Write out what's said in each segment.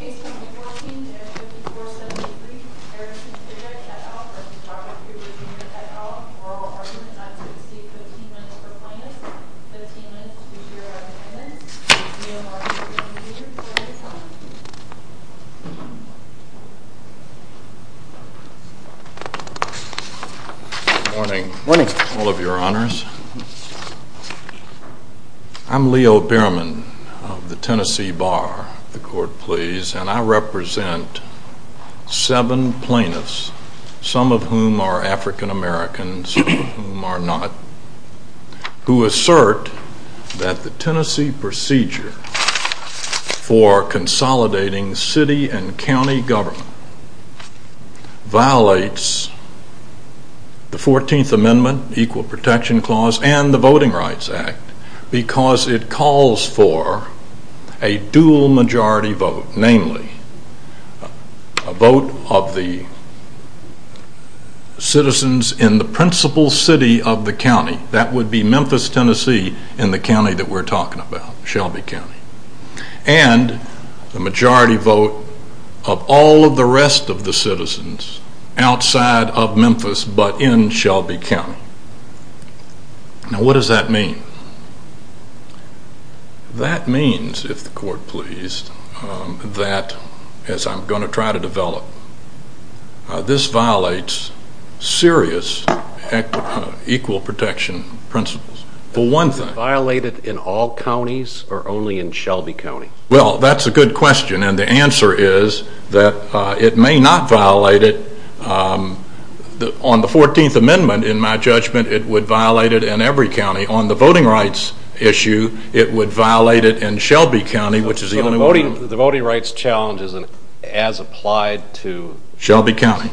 et al. Oral argument on T.C. 15 minutes per plaintiff. 15 minutes to hear our defendants. Leo Bierman. Good morning. All of your honors. I'm Leo Bierman of the Tennessee Bar, the court please, and I represent seven plaintiffs, some of whom are African Americans, some of whom are not, who assert that the Tennessee procedure for consolidating city and county government violates the 14th Amendment, Equal Protection Clause, and the Voting Rights Act, because it calls for a dual majority vote, namely, a vote of the citizens in the principal city of the county, that would be Memphis, Tennessee, in the county that we're talking about, Shelby County, and the majority vote of all of the rest of the citizens outside of Memphis but in Shelby County. Now what does that mean? That means, if the court please, that as I'm going to try to develop, this violates serious equal protection principles. For one thing. Is it violated in all counties or only in Shelby County? Well, that's a good question, and the answer is that it may not violate it. On the 14th Amendment, in my judgment, it would violate it in every county. On the voting rights issue, it would violate it in Shelby County, which is the only one. The voting rights challenge isn't as applied to Shelby County.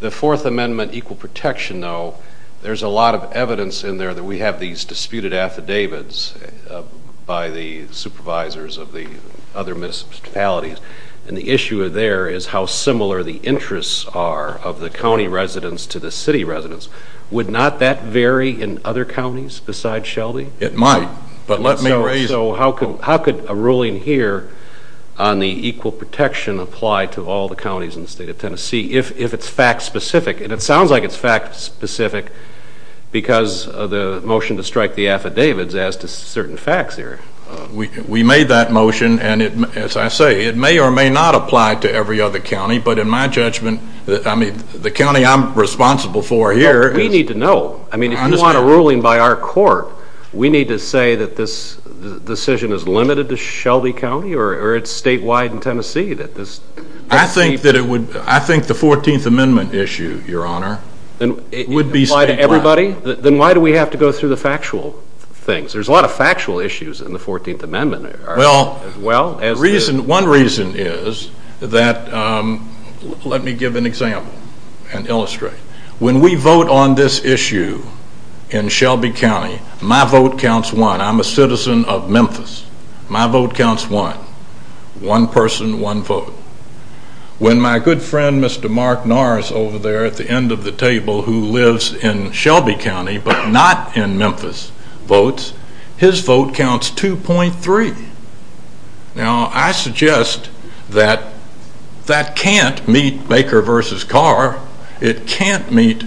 The Fourth Amendment, equal protection, though, there's a lot of evidence in there that we have these disputed affidavits by the supervisors of the other municipalities, and the issue there is how similar the interests are of the county residents to the city residents. Would not that vary in other counties besides Shelby? It might, but let me raise... So how could a ruling here on the equal protection apply to all the counties in the state of Tennessee, if it's fact-specific? And it sounds like it's fact-specific because of the motion to strike the affidavits as to certain facts here. We made that motion, and as I say, it may or may not apply to every other county, but in my judgment, the county I'm responsible for here... So the decision is limited to Shelby County, or it's statewide in Tennessee? I think the 14th Amendment issue, Your Honor, would be statewide. Then why do we have to go through the factual things? There's a lot of factual issues in the 14th Amendment. Well, one reason is that, let me give an example and illustrate. When we vote on this issue in Shelby County, my vote counts one. I'm a citizen of Memphis. My vote counts one. One person, one vote. When my good friend, Mr. Mark Norris over there at the end of the table, who lives in Shelby County, but not in Memphis, votes, his vote counts 2.3. Now, I suggest that that can't meet Baker versus Carr. It can't meet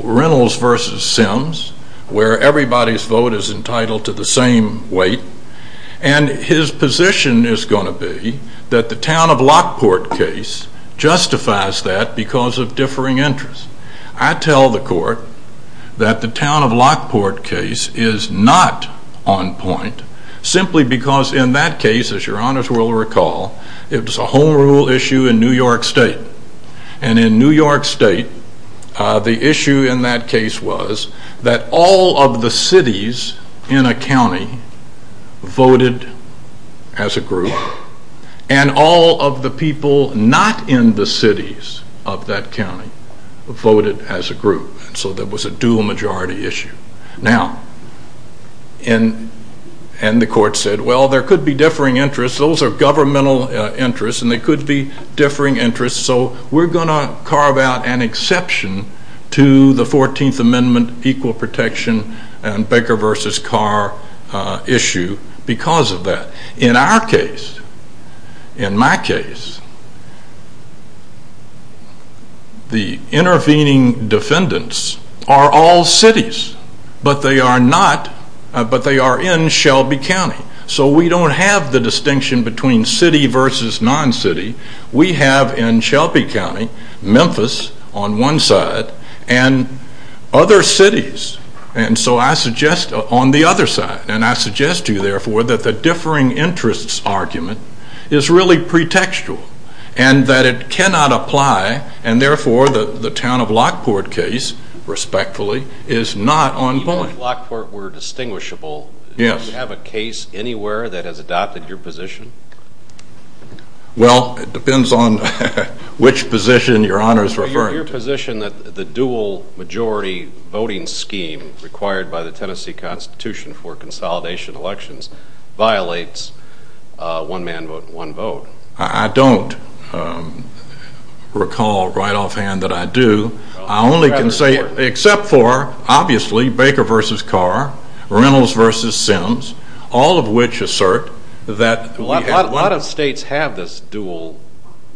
Reynolds versus Sims, where everybody's vote is entitled to the same weight. And his position is going to be that the town of Lockport case justifies that because of differing interests. I tell the court that the town of Lockport case is not on point, simply because in that case, as Your Honors will recall, it was a home rule issue in New York State. And in New York State, the issue in that case was that all of the cities in a county voted as a group, and all of the people not in the cities of that county voted as a group. So that was a dual majority issue. Now, and the court said, well there could be differing interests. Those are governmental interests, and they could be differing interests. So we're going to carve out an exception to the 14th Amendment, equal protection, and Baker versus Carr issue because of that. In our case, in my case, the intervening defendants are all cities, but they are in Shelby County. So we don't have the distinction between city versus non-city. We have in Shelby County, Memphis on one side, and other cities. And so I suggest on the other side, and I suggest to you therefore, that the differing interests argument is really pretextual. And that it cannot apply, and therefore the town of Lockport case, respectfully, is not on point. If Lockport were distinguishable, do you have a case anywhere that has adopted your position? Well, it depends on which position Your Honors are referring to. Your position that the dual majority voting scheme required by the Tennessee Constitution for consolidation elections violates one man vote, one vote. I don't recall right off hand that I do. I only can say, except for, obviously, Baker versus Carr, Reynolds versus Sims, all of which assert that A lot of states have this dual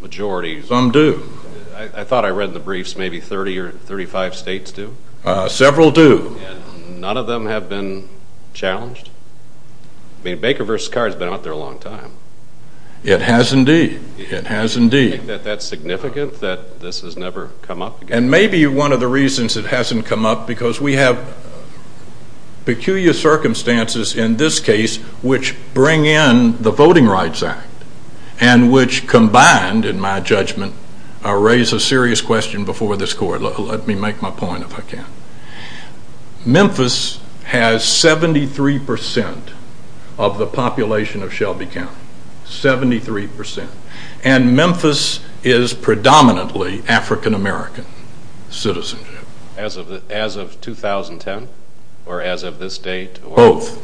majority. Some do. I thought I read in the briefs maybe 30 or 35 states do. Several do. None of them have been challenged. I mean, Baker versus Carr has been out there a long time. It has indeed. It has indeed. Do you think that that's significant, that this has never come up again? And maybe one of the reasons it hasn't come up, because we have peculiar circumstances in this case, which bring in the Voting Rights Act, and which combined, in my judgment, raise a serious question before this Court. Let me make my point, if I can. Memphis has 73% of the population of Shelby County. 73%. And Memphis is predominantly African American citizenship. As of 2010? Or as of this date? Both.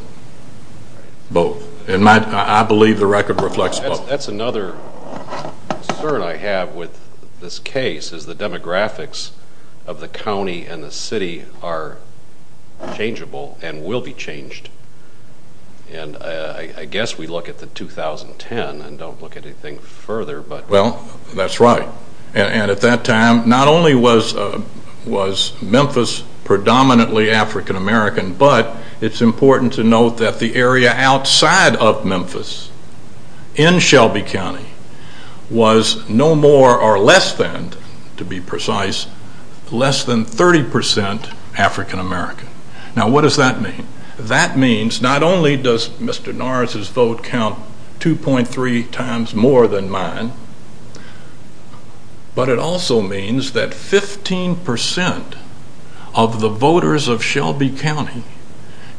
Both. I believe the record reflects both. That's another concern I have with this case, is the demographics of the county and the city are changeable and will be changed. And I guess we look at the 2010 and don't look at anything further. Well, that's right. And at that time, not only was Memphis predominantly African American, but it's important to note that the area outside of Memphis, in Shelby County, was no more or less than, to be precise, less than 30% African American. Now what does that mean? That means, not only does Mr. Norris' vote count 2.3 times more than mine, but it also means that 15% of the voters of Shelby County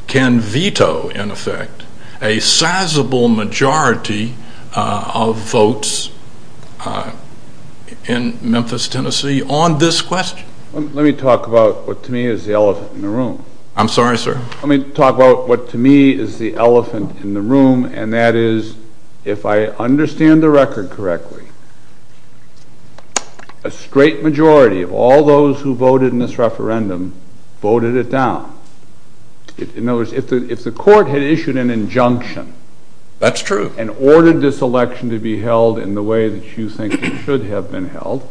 can veto, in effect, a sizable majority of votes in Memphis, Tennessee, on this question. Let me talk about what to me is the elephant in the room. I'm sorry, sir. Let me talk about what to me is the elephant in the room, and that is, if I understand the record correctly, a straight majority of all those who voted in this referendum, voted it down. In other words, if the court had issued an injunction and ordered this election to be held in the way that you think it should have been held,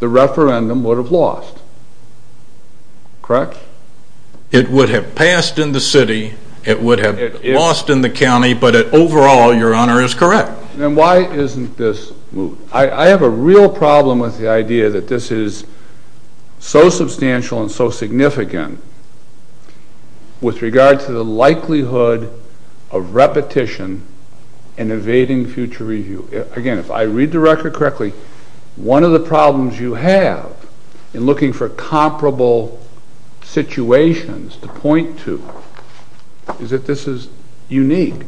the referendum would have lost. Correct? It would have passed in the city, it would have lost in the county, but overall, your honor, is correct. Then why isn't this moved? I have a real problem with the idea that this is so substantial and so significant with regard to the likelihood of repetition in evading future review. Again, if I read the record correctly, one of the problems you have in looking for comparable situations to point to is that this is unique.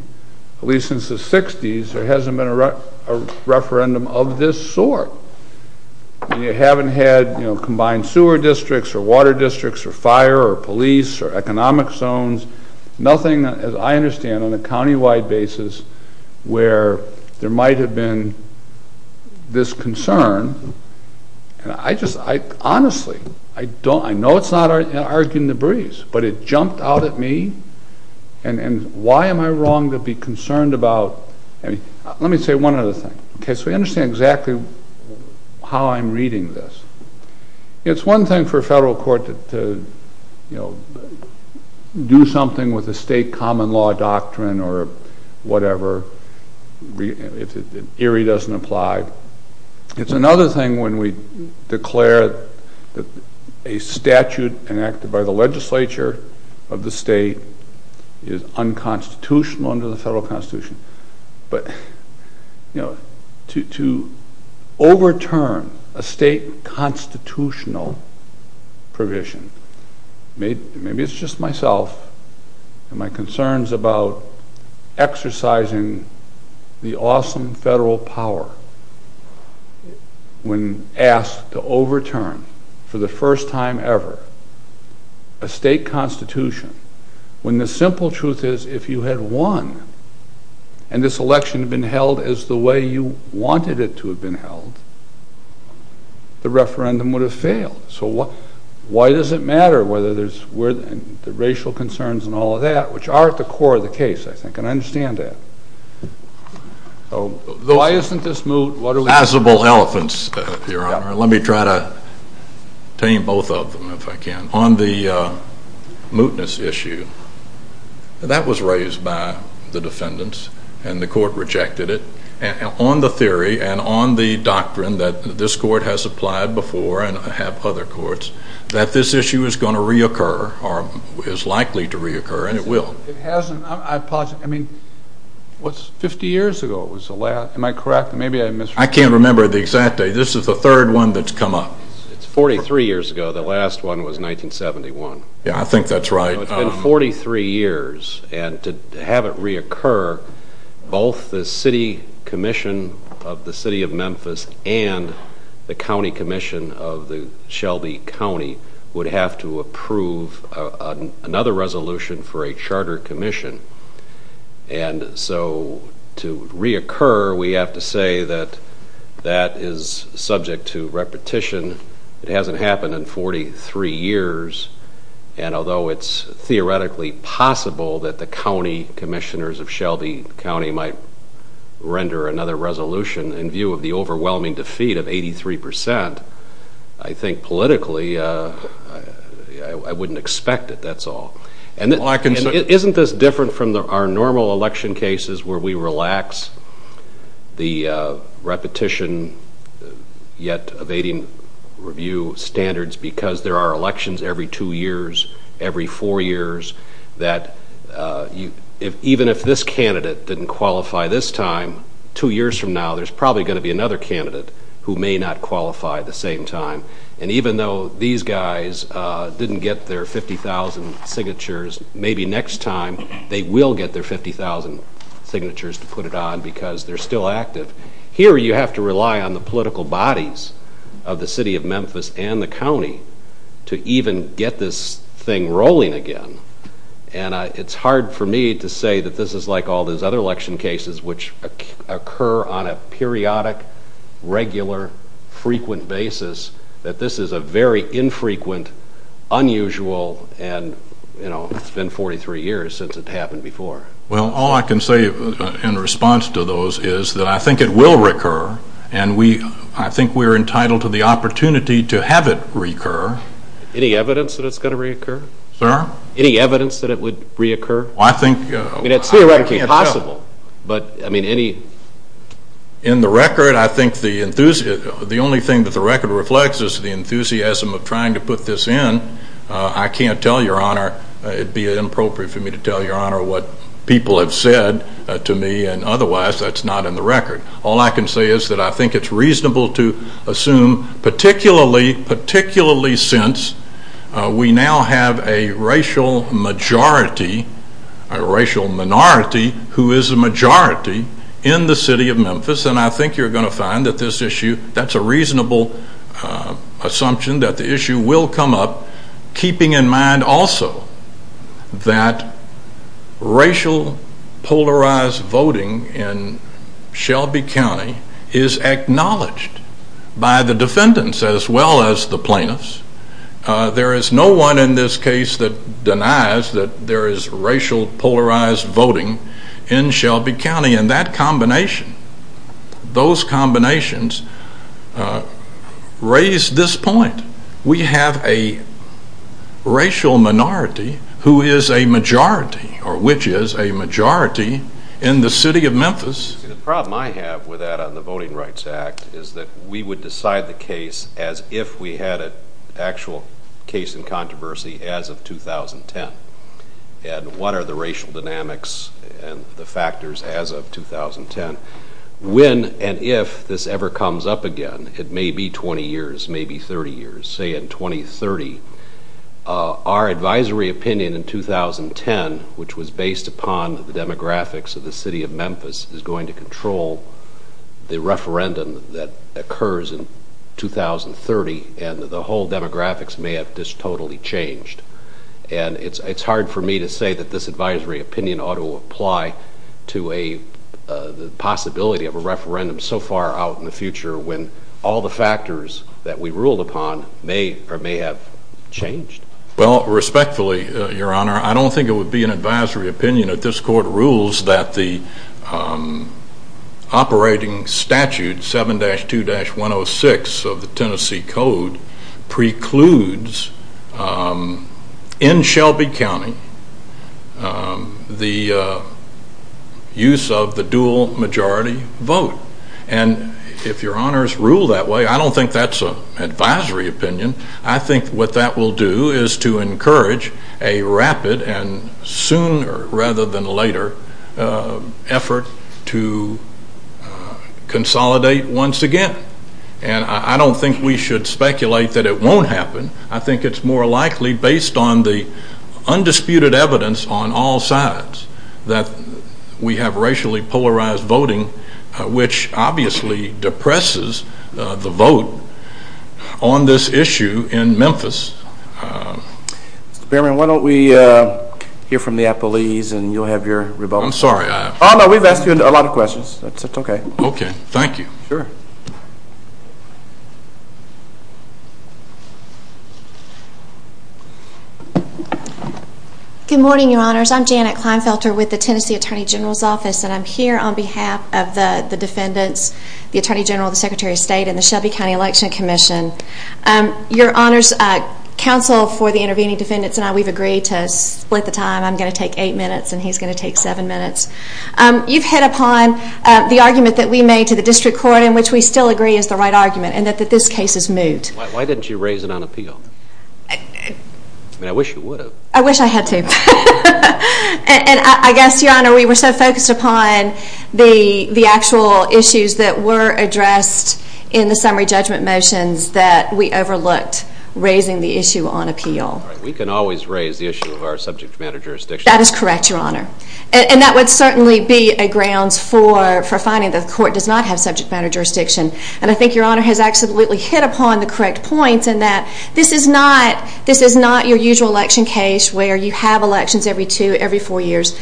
At least since the 60s, there hasn't been a referendum of this sort. You haven't had combined sewer districts or water districts or fire or police or economic zones. Nothing, as I understand, on a countywide basis where there might have been this concern. Honestly, I know it's not arguing the breeze, but it jumped out at me, and why am I wrong to be concerned about... Let me say one other thing. So we understand exactly how I'm reading this. It's one thing for a federal court to do something with a state common law doctrine or whatever, if it doesn't apply. It's another thing when we declare that a statute enacted by the legislature of the state is unconstitutional under the federal constitution. But to overturn a state constitutional provision... Maybe it's just myself and my concerns about exercising the awesome federal power when asked to overturn for the first time ever a state constitution when the simple truth is if you had won and this election had been held as the way you wanted it to have been held, the referendum would have failed. So why does it matter whether there's racial concerns and all of that, which are at the core of the case, I think, and I understand that. Why isn't this moot? Passable elephants, Your Honor. Let me try to tame both of them, if I can. On the mootness issue, that was raised by the defendants and the court rejected it. And on the theory and on the doctrine that this court has applied before and have other courts, that this issue is going to reoccur or is likely to reoccur and it will. It hasn't. I mean, what's 50 years ago? Am I correct? Maybe I misread it. I can't remember the exact date. This is the third one that's come up. It's 43 years ago. The last one was 1971. Yeah, I think that's right. It's been 43 years and to have it reoccur, both the city commission of the city of Memphis and the county commission of the Shelby County would have to approve another resolution for a charter commission. And so to reoccur, we have to say that that is subject to repetition. It hasn't happened in 43 years. And although it's theoretically possible that the county commissioners of Shelby County might render another resolution in view of the overwhelming defeat of 83%, I think politically, I wouldn't expect it, that's all. Isn't this different from our normal election cases where we relax the repetition yet evading review standards because there are elections every two years, every four years, that even if this candidate didn't qualify this time, two years from now, there's probably going to be another candidate who may not qualify at the same time. And even though these guys didn't get their 50,000 signatures, maybe next time they will get their 50,000 signatures to put it on because they're still active. Here you have to rely on the political bodies of the city of Memphis and the county to even get this thing rolling again. And it's hard for me to say that this is like all those other election cases which occur on a periodic, regular, frequent basis, that this is a very infrequent, unusual, and, you know, it's been 43 years since it happened before. Well, all I can say in response to those is that I think it will recur, and I think we're entitled to the opportunity to have it recur. Any evidence that it's going to reoccur? Sir? Any evidence that it would reoccur? Well, I think... I mean, it's theoretically possible, but, I mean, any... In the record, I think the only thing that the record reflects is the enthusiasm of trying to put this in. I can't tell, Your Honor. It would be inappropriate for me to tell, Your Honor, what people have said to me, and otherwise that's not in the record. Particularly, particularly since we now have a racial majority, a racial minority, who is a majority in the city of Memphis, and I think you're going to find that this issue, that's a reasonable assumption that the issue will come up, keeping in mind also that racial polarized voting in Shelby County is acknowledged by the defendants as well as the plaintiffs. There is no one in this case that denies that there is racial polarized voting in Shelby County, and that combination, those combinations raise this point. We have a racial minority who is a majority, or which is a majority, in the city of Memphis. The problem I have with that on the Voting Rights Act is that we would decide the case as if we had an actual case in controversy as of 2010, and what are the racial dynamics and the factors as of 2010. When and if this ever comes up again, it may be 20 years, it may be 30 years, say in 2030, our advisory opinion in 2010, which was based upon the demographics of the city of Memphis, is going to control the referendum that occurs in 2030, and the whole demographics may have just totally changed. And it's hard for me to say that this advisory opinion ought to apply to a possibility of a referendum so far out in the future when all the factors that we ruled upon may or may have changed. Well, respectfully, Your Honor, I don't think it would be an advisory opinion if this court rules that the operating statute 7-2-106 of the Tennessee Code precludes in Shelby County the use of the dual majority vote. And if Your Honors rule that way, I don't think that's an advisory opinion. I think what that will do is to encourage a rapid and sooner rather than later effort to consolidate once again. And I don't think we should speculate that it won't happen. I think it's more likely based on the undisputed evidence on all sides that we have racially polarized voting, which obviously depresses the vote on this issue in Memphis. Mr. Behrman, why don't we hear from the appellees and you'll have your rebuttal. I'm sorry. Oh, no, we've asked you a lot of questions. It's okay. Okay. Thank you. Sure. Good morning, Your Honors. I'm Janet Kleinfelter with the Tennessee Attorney General's Office, and I'm here on behalf of the defendants, the Attorney General, the Secretary of State, and the Shelby County Election Commission. Your Honors, counsel for the intervening defendants and I, we've agreed to split the time. I'm going to take eight minutes and he's going to take seven minutes. You've hit upon the argument that we made to the district court, in which we still agree is the right argument, and that this case is moved. Why didn't you raise it on appeal? I mean, I wish you would have. I wish I had to. And I guess, Your Honor, we were so focused upon the actual issues that were addressed in the summary judgment motions that we overlooked raising the issue on appeal. We can always raise the issue of our subject matter jurisdiction. That is correct, Your Honor. And that would certainly be a grounds for finding the court does not have subject matter jurisdiction. And I think Your Honor has absolutely hit upon the correct points in that this is not your usual election case where you have elections every two, every four years.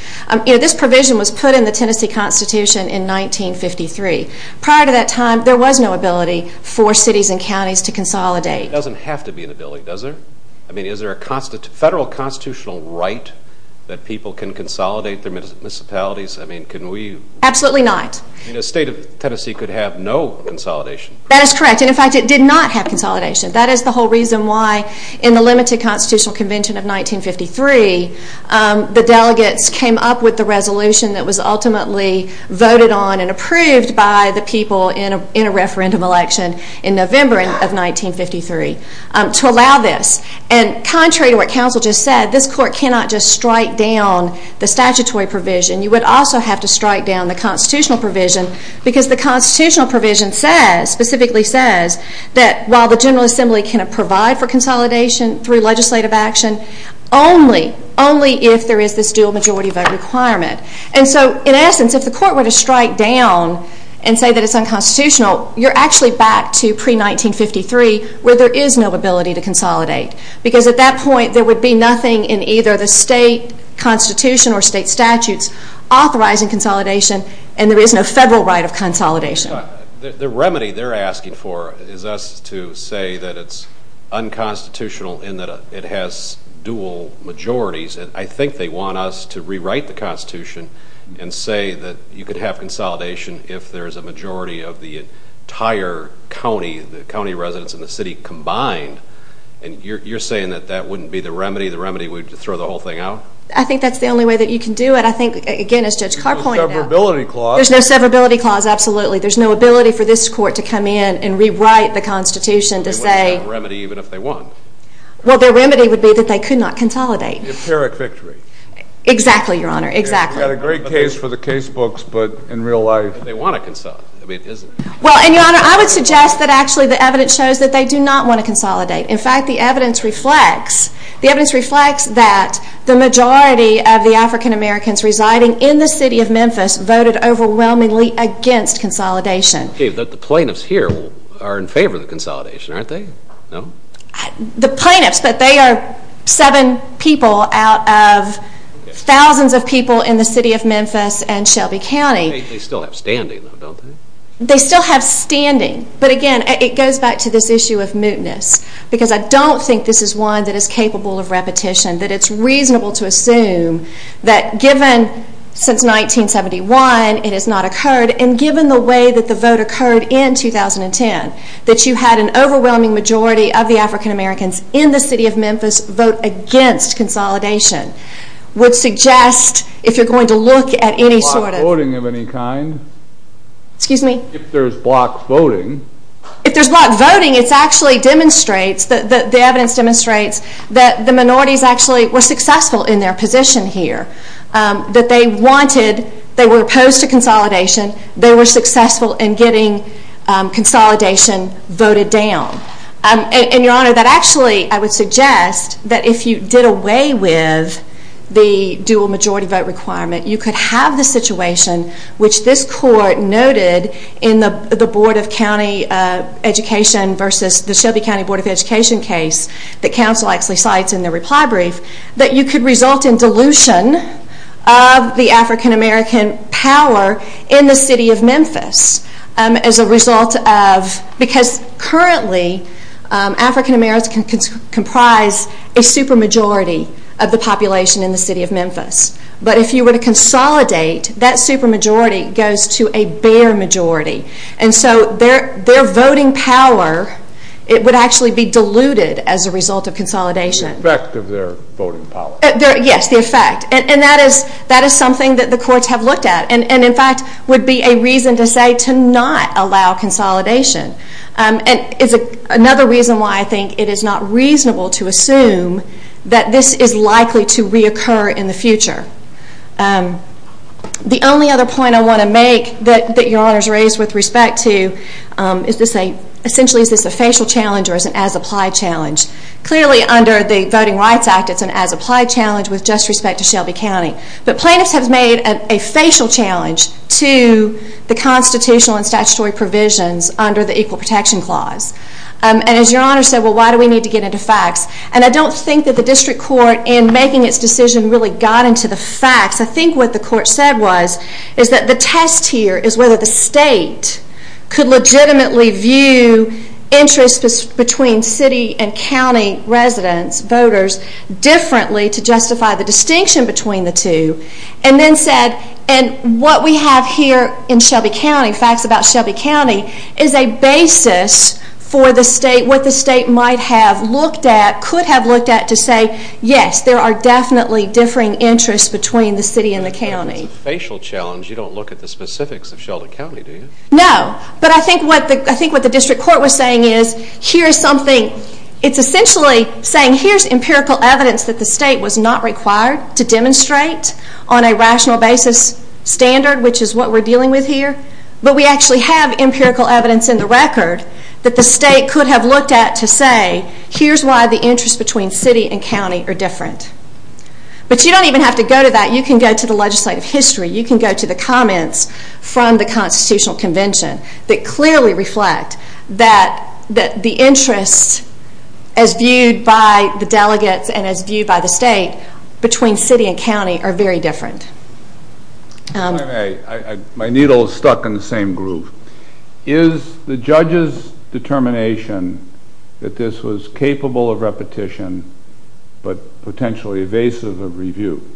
You know, this provision was put in the Tennessee Constitution in 1953. Prior to that time, there was no ability for cities and counties to consolidate. It doesn't have to be an ability, does it? I mean, is there a federal constitutional right that people can consolidate their municipalities? I mean, can we? Absolutely not. I mean, a state of Tennessee could have no consolidation. That is correct. And, in fact, it did not have consolidation. That is the whole reason why in the limited constitutional convention of 1953, the delegates came up with the resolution that was ultimately voted on and approved by the people in a referendum election in November of 1953. To allow this. And contrary to what counsel just said, this court cannot just strike down the statutory provision. You would also have to strike down the constitutional provision because the constitutional provision says, specifically says, that while the General Assembly cannot provide for consolidation through legislative action, only, only if there is this dual majority vote requirement. And so, in essence, if the court were to strike down and say that it is unconstitutional, you are actually back to pre-1953 where there is no ability to consolidate because at that point there would be nothing in either the state constitution or state statutes authorizing consolidation and there is no federal right of consolidation. The remedy they are asking for is us to say that it is unconstitutional in that it has dual majorities. and say that you could have consolidation if there is a majority of the entire county, the county residents and the city combined. And you are saying that that wouldn't be the remedy? The remedy would be to throw the whole thing out? I think that is the only way that you can do it. I think, again, as Judge Carr pointed out. There is no severability clause. There is no severability clause, absolutely. There is no ability for this court to come in and rewrite the constitution to say. They wouldn't have a remedy even if they won. Well, their remedy would be that they could not consolidate. Empiric victory. Exactly, Your Honor, exactly. We've got a great case for the case books, but in real life. They want to consolidate. Well, and Your Honor, I would suggest that actually the evidence shows that they do not want to consolidate. In fact, the evidence reflects that the majority of the African-Americans residing in the city of Memphis voted overwhelmingly against consolidation. The plaintiffs here are in favor of the consolidation, aren't they? No? The plaintiffs, but they are seven people out of thousands of people in the city of Memphis and Shelby County. They still have standing, though, don't they? They still have standing. But, again, it goes back to this issue of mootness because I don't think this is one that is capable of repetition, that it's reasonable to assume that given since 1971 it has not occurred and given the way that the vote occurred in 2010, that you had an overwhelming majority of the African-Americans in the city of Memphis vote against consolidation. I would suggest if you're going to look at any sort of... If there's block voting of any kind. Excuse me? If there's block voting. If there's block voting, it actually demonstrates, the evidence demonstrates, that the minorities actually were successful in their position here, that they wanted, they were opposed to consolidation, they were successful in getting consolidation voted down. And, Your Honor, that actually, I would suggest, that if you did away with the dual majority vote requirement, you could have the situation which this court noted in the Board of County Education versus the Shelby County Board of Education case that counsel actually cites in the reply brief, that you could result in dilution of the African-American power in the city of Memphis as a result of... Because currently African-Americans comprise a supermajority of the population in the city of Memphis. But if you were to consolidate, that supermajority goes to a bare majority. And so their voting power, it would actually be diluted as a result of consolidation. The effect of their voting power. Yes, the effect. And that is something that the courts have looked at. And, in fact, would be a reason to say to not allow consolidation. And it's another reason why I think it is not reasonable to assume that this is likely to reoccur in the future. The only other point I want to make that Your Honor's raised with respect to is to say, essentially, is this a facial challenge or is it an as-applied challenge? Clearly, under the Voting Rights Act, it's an as-applied challenge with just respect to Shelby County. But plaintiffs have made a facial challenge to the constitutional and statutory provisions under the Equal Protection Clause. And as Your Honor said, well, why do we need to get into facts? And I don't think that the district court, in making its decision, really got into the facts. I think what the court said was, is that the test here is whether the state could legitimately view interests between city and county residents, voters, differently to justify the distinction between the two. And then said, and what we have here in Shelby County, facts about Shelby County, is a basis for the state, what the state might have looked at, could have looked at, to say, yes, there are definitely differing interests between the city and the county. You don't look at the specifics of Shelby County, do you? No, but I think what the district court was saying is, here's something, it's essentially saying, here's empirical evidence that the state was not required to demonstrate on a rational basis standard, which is what we're dealing with here. But we actually have empirical evidence in the record that the state could have looked at to say, here's why the interests between city and county are different. But you don't even have to go to that, you can go to the legislative history, you can go to the comments from the Constitutional Convention that clearly reflect that the interests as viewed by the delegates and as viewed by the state between city and county are very different. My needle is stuck in the same groove. Is the judge's determination that this was capable of repetition, but potentially evasive of review,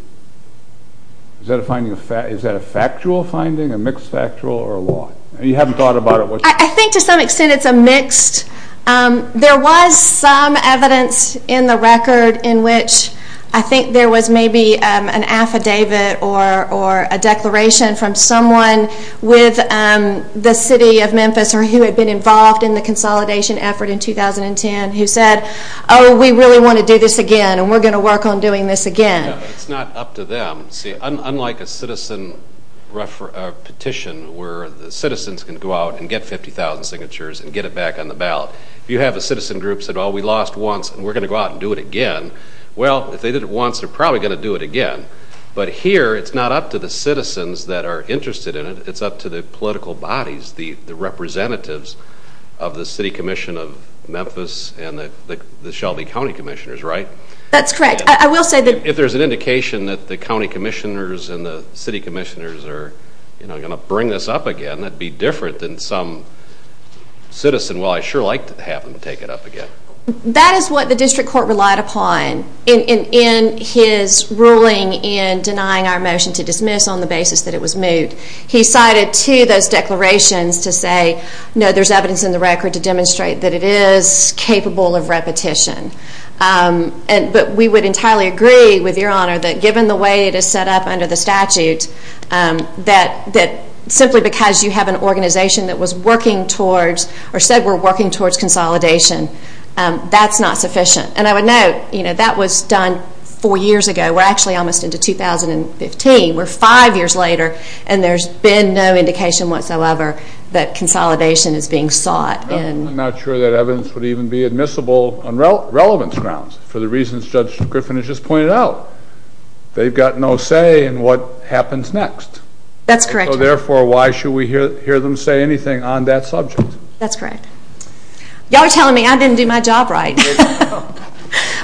is that a factual finding, a mixed factual or a law? You haven't thought about it. I think to some extent it's a mixed, there was some evidence in the record in which I think there was maybe an affidavit or a declaration from someone with the city of Memphis or who had been involved in the consolidation effort in 2010 who said, oh, we really want to do this again and we're going to work on doing this again. It's not up to them. Unlike a citizen petition where the citizens can go out and get 50,000 signatures and get it back on the ballot, if you have a citizen group that said, oh, we lost once and we're going to go out and do it again, well, if they did it once they're probably going to do it again. But here it's not up to the citizens that are interested in it, it's up to the political bodies, the representatives of the City Commission of Memphis and the Shelby County Commissioners, right? That's correct. If there's an indication that the county commissioners and the city commissioners are going to bring this up again, that would be different than some citizen, well, I sure like to have them take it up again. That is what the district court relied upon in his ruling in denying our motion to dismiss on the basis that it was moved. He cited two of those declarations to say, no, there's evidence in the record to demonstrate that it is capable of repetition. But we would entirely agree with Your Honor that given the way it is set up under the statute, that simply because you have an organization that was working towards or said we're working towards consolidation, that's not sufficient. And I would note, you know, that was done four years ago. We're actually almost into 2015. We're five years later and there's been no indication whatsoever that consolidation is being sought. I'm not sure that evidence would even be admissible on relevance grounds for the reasons Judge Griffin has just pointed out. They've got no say in what happens next. That's correct. So therefore, why should we hear them say anything on that subject? That's correct. Y'all are telling me I didn't do my job right.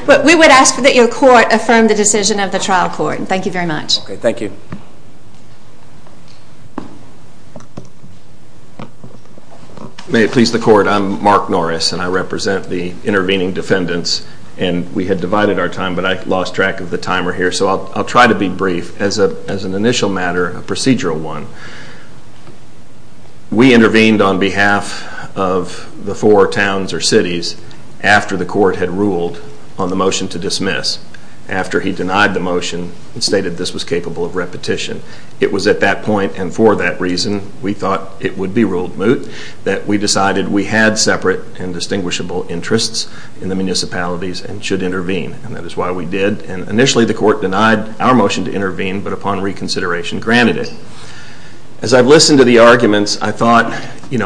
But we would ask that your court affirm the decision of the trial court. Thank you very much. Okay, thank you. May it please the court, I'm Mark Norris and I represent the intervening defendants. And we had divided our time, but I lost track of the timer here, so I'll try to be brief. As an initial matter, a procedural one, we intervened on behalf of the four towns or cities after the court had ruled on the motion to dismiss, after he denied the motion and stated this was capable of repetition. It was at that point, and for that reason we thought it would be ruled moot, that we decided we had separate and distinguishable interests in the municipalities and should intervene. And that is why we did. And initially the court denied our motion to intervene, but upon reconsideration granted it. As I've listened to the arguments, I thought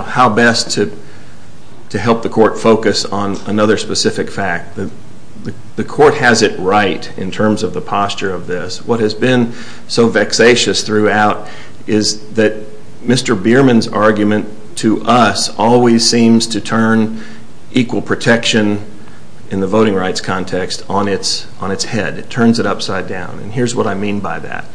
how best to help the court focus on another specific fact. The court has it right in terms of the posture of this. What has been so vexatious throughout is that Mr. Bierman's argument to us always seems to turn equal protection in the voting rights context on its head. It turns it upside down. And here's what I mean by that.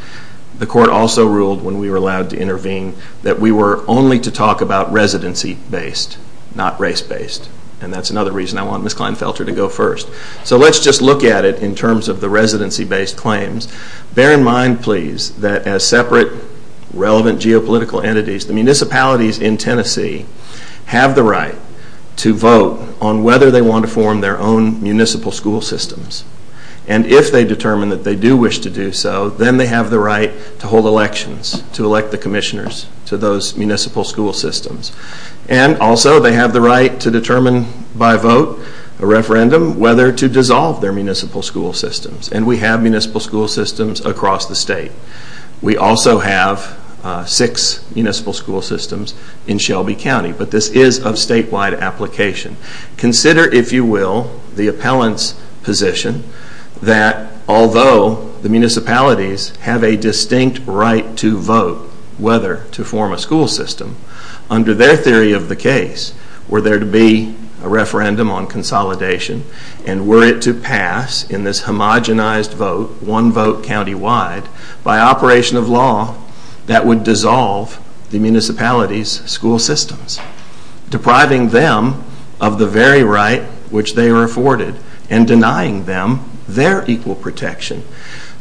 The court also ruled when we were allowed to intervene that we were only to talk about residency based, not race based. And that's another reason I want Ms. Kleinfelter to go first. So let's just look at it in terms of the residency based claims. Bear in mind, please, that as separate relevant geopolitical entities, the municipalities in Tennessee have the right to vote on whether they want to form their own municipal school systems. And if they determine that they do wish to do so, then they have the right to hold elections, to elect the commissioners to those municipal school systems. And also they have the right to determine by vote, a referendum, whether to dissolve their municipal school systems. And we have municipal school systems across the state. We also have six municipal school systems in Shelby County. But this is of statewide application. Consider, if you will, the appellant's position that although the municipalities have a distinct right to vote whether to form a school system, under their theory of the case, were there to be a referendum on consolidation and were it to pass in this homogenized vote, one vote countywide, by operation of law, that would dissolve the municipalities' school systems, depriving them of the very right which they were afforded and denying them their equal protection.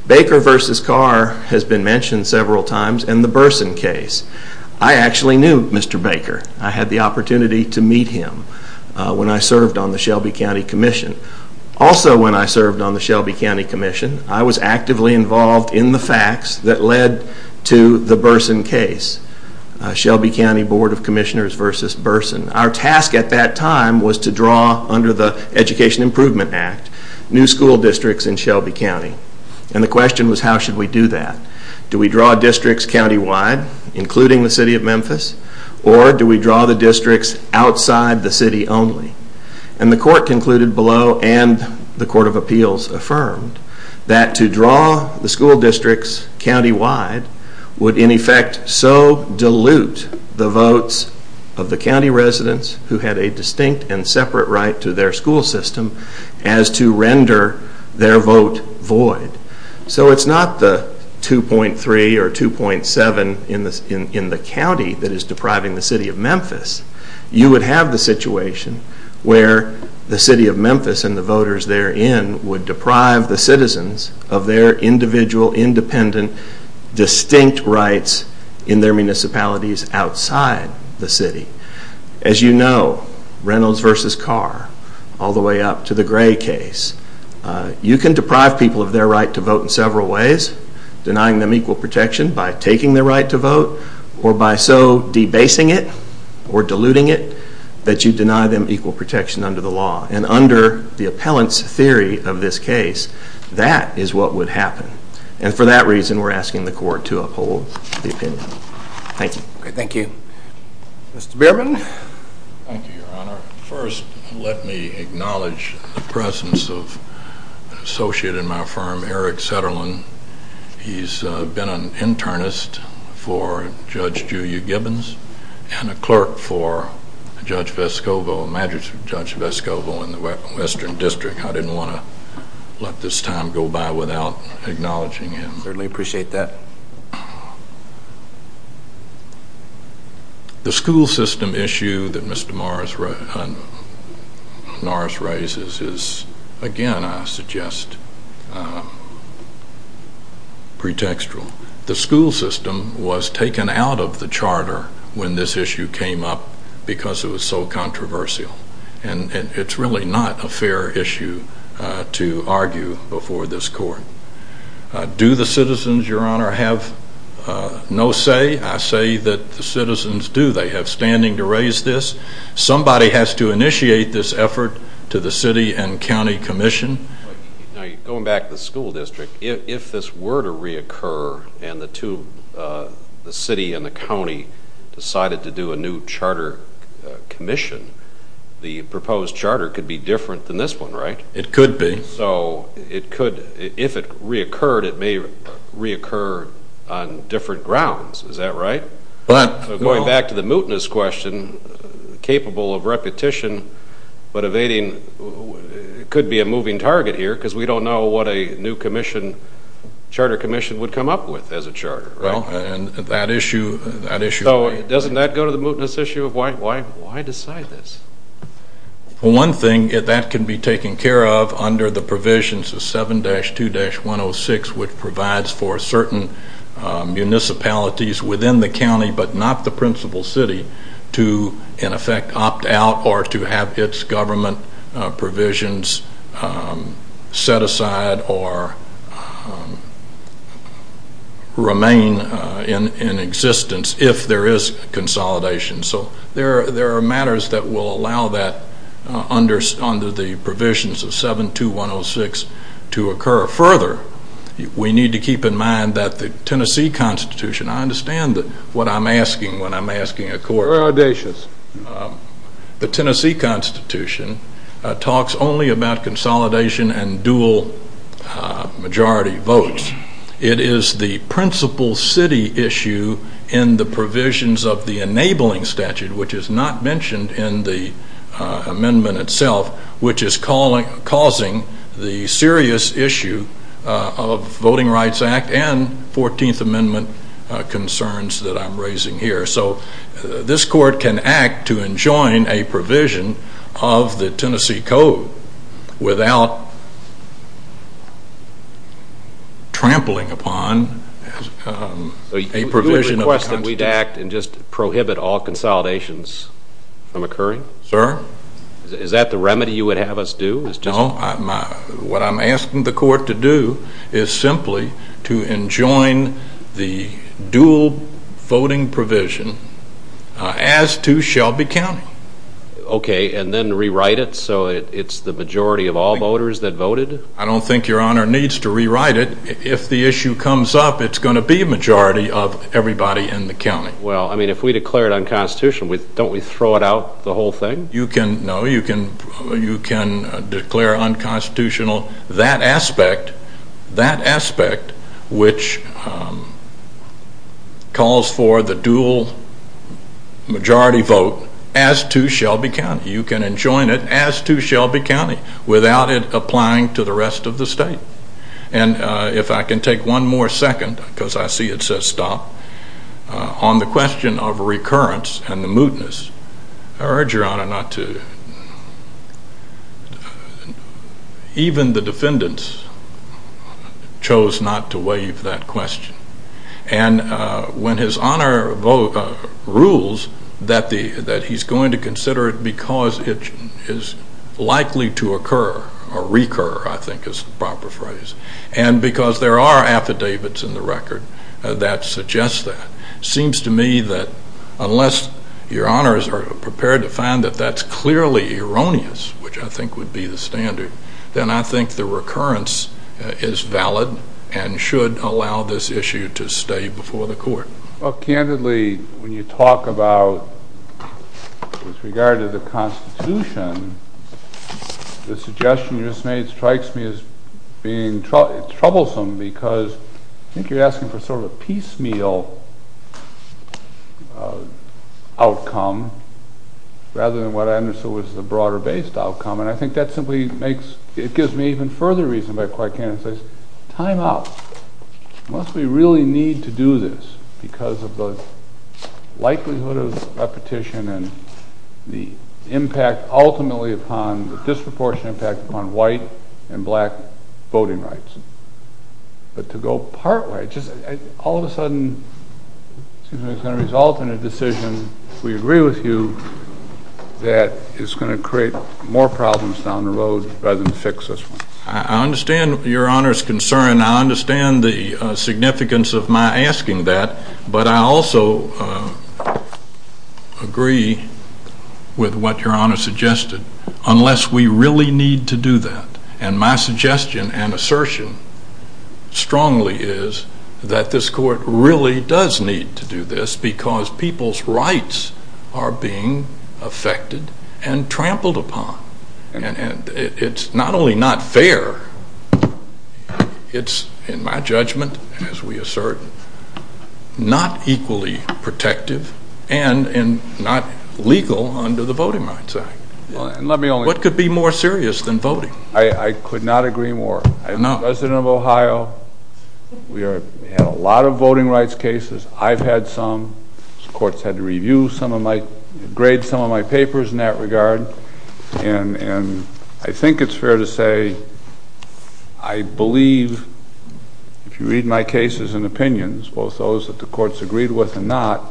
Baker v. Carr has been mentioned several times and the Burson case. I actually knew Mr. Baker. I had the opportunity to meet him when I served on the Shelby County Commission. Also when I served on the Shelby County Commission, I was actively involved in the facts that led to the Burson case. Shelby County Board of Commissioners v. Burson. Our task at that time was to draw, under the Education Improvement Act, new school districts in Shelby County. And the question was, how should we do that? Do we draw districts countywide, including the city of Memphis? Or do we draw the districts outside the city only? And the court concluded below, and the Court of Appeals affirmed, that to draw the school districts countywide would in effect so dilute the votes of the county residents who had a distinct and separate right to their school system as to render their vote void. So it's not the 2.3 or 2.7 in the county that is depriving the city of Memphis. You would have the situation where the city of Memphis and the voters therein would deprive the citizens of their individual, independent, distinct rights in their municipalities outside the city. As you know, Reynolds v. Carr, all the way up to the Gray case, you can deprive people of their right to vote in several ways, denying them equal protection by taking their right to vote, or by so debasing it, or diluting it, that you deny them equal protection under the law. And under the appellant's theory of this case, that is what would happen. And for that reason, we're asking the court to uphold the opinion. Thank you. Thank you. Mr. Bierman? Thank you, Your Honor. First, let me acknowledge the presence of an associate in my firm, Eric Setterlin. He's been an internist for Judge Julia Gibbons and a clerk for Judge Vescovo, a magistrate for Judge Vescovo in the Western District. I didn't want to let this time go by without acknowledging him. I certainly appreciate that. The school system issue that Mr. Norris raises is, again, I suggest, pretextual. The school system was taken out of the charter when this issue came up because it was so controversial. And it's really not a fair issue to argue before this court. Do the citizens, Your Honor, have no say? I say that the citizens do. They have standing to raise this. Somebody has to initiate this effort to the city and county commission. Going back to the school district, if this were to reoccur and the city and the county decided to do a new charter commission, the proposed charter could be different than this one, right? It could be. So if it reoccurred, it may reoccur on different grounds. Is that right? Going back to the mootness question, capable of repetition but evading could be a moving target here because we don't know what a new charter commission would come up with as a charter, right? That issue. So doesn't that go to the mootness issue of why decide this? One thing, that can be taken care of under the provisions of 7-2-106, which provides for certain municipalities within the county but not the principal city to, in effect, opt out or to have its government provisions set aside or remain in existence if there is consolidation. So there are matters that will allow that under the provisions of 7-2-106 to occur. Further, we need to keep in mind that the Tennessee Constitution, I understand what I'm asking when I'm asking a court. You're audacious. The Tennessee Constitution talks only about consolidation and dual majority votes. It is the principal city issue in the provisions of the enabling statute, which is not mentioned in the amendment itself, which is causing the serious issue of Voting Rights Act and 14th Amendment concerns that I'm raising here. So this court can act to enjoin a provision of the Tennessee Code without trampling upon a provision of the Constitution. So you would request that we act and just prohibit all consolidations from occurring? Sir? Is that the remedy you would have us do? What I'm asking the court to do is simply to enjoin the dual voting provision as to Shelby County. Okay, and then rewrite it so it's the majority of all voters that voted? I don't think Your Honor needs to rewrite it. If the issue comes up, it's going to be a majority of everybody in the county. Well, I mean, if we declare it unconstitutional, don't we throw it out, the whole thing? No, you can declare unconstitutional that aspect, that aspect which calls for the dual majority vote as to Shelby County. You can enjoin it as to Shelby County without it applying to the rest of the state. And if I can take one more second, because I see it says stop, on the question of recurrence and the mootness, I urge Your Honor not to, even the defendants chose not to waive that question. And when His Honor rules that he's going to consider it because it is likely to occur, or recur I think is the proper phrase, and because there are affidavits in the record that suggest that. It seems to me that unless Your Honor is prepared to find that that's clearly erroneous, which I think would be the standard, then I think the recurrence is valid and should allow this issue to stay before the court. Well, candidly, when you talk about, with regard to the Constitution, the suggestion you just made strikes me as being troublesome because I think you're asking for sort of a piecemeal outcome rather than what I understood was the broader based outcome. And I think that simply makes, it gives me even further reason by which I can't say time out. Unless we really need to do this because of the likelihood of repetition and the impact ultimately upon, the disproportionate impact upon white and black voting rights. But to go part way, all of a sudden it's going to result in a decision, we agree with you, that is going to create more problems down the road rather than fix this one. I understand Your Honor's concern. I understand the significance of my asking that. But I also agree with what Your Honor suggested, unless we really need to do that. And my suggestion and assertion strongly is that this court really does need to do this because people's rights are being affected and trampled upon. And it's not only not fair, it's in my judgment, as we assert, not equally protective and not legal under the Voting Rights Act. Let me only... What could be more serious than voting? I could not agree more. No. As President of Ohio, we have a lot of voting rights cases. I've had some. The courts had to review some of my, grade some of my papers in that regard. And I think it's fair to say I believe, if you read my cases and opinions, both those that the courts agreed with and not,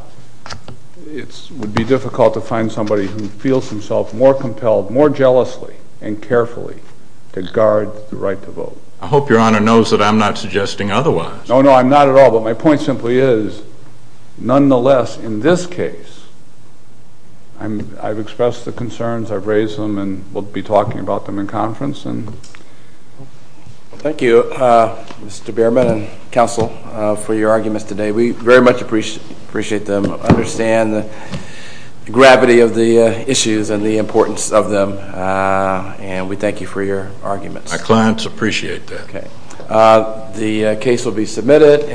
it would be difficult to find somebody who feels himself more compelled, more jealously and carefully to guard the right to vote. I hope Your Honor knows that I'm not suggesting otherwise. No, no, I'm not at all. But my point simply is, nonetheless, in this case, I've expressed the concerns, I've raised them, and we'll be talking about them in conference. Thank you, Mr. Behrman and counsel, for your arguments today. We very much appreciate them, understand the gravity of the issues and the importance of them, and we thank you for your arguments. My clients appreciate that. Okay. The case will be submitted.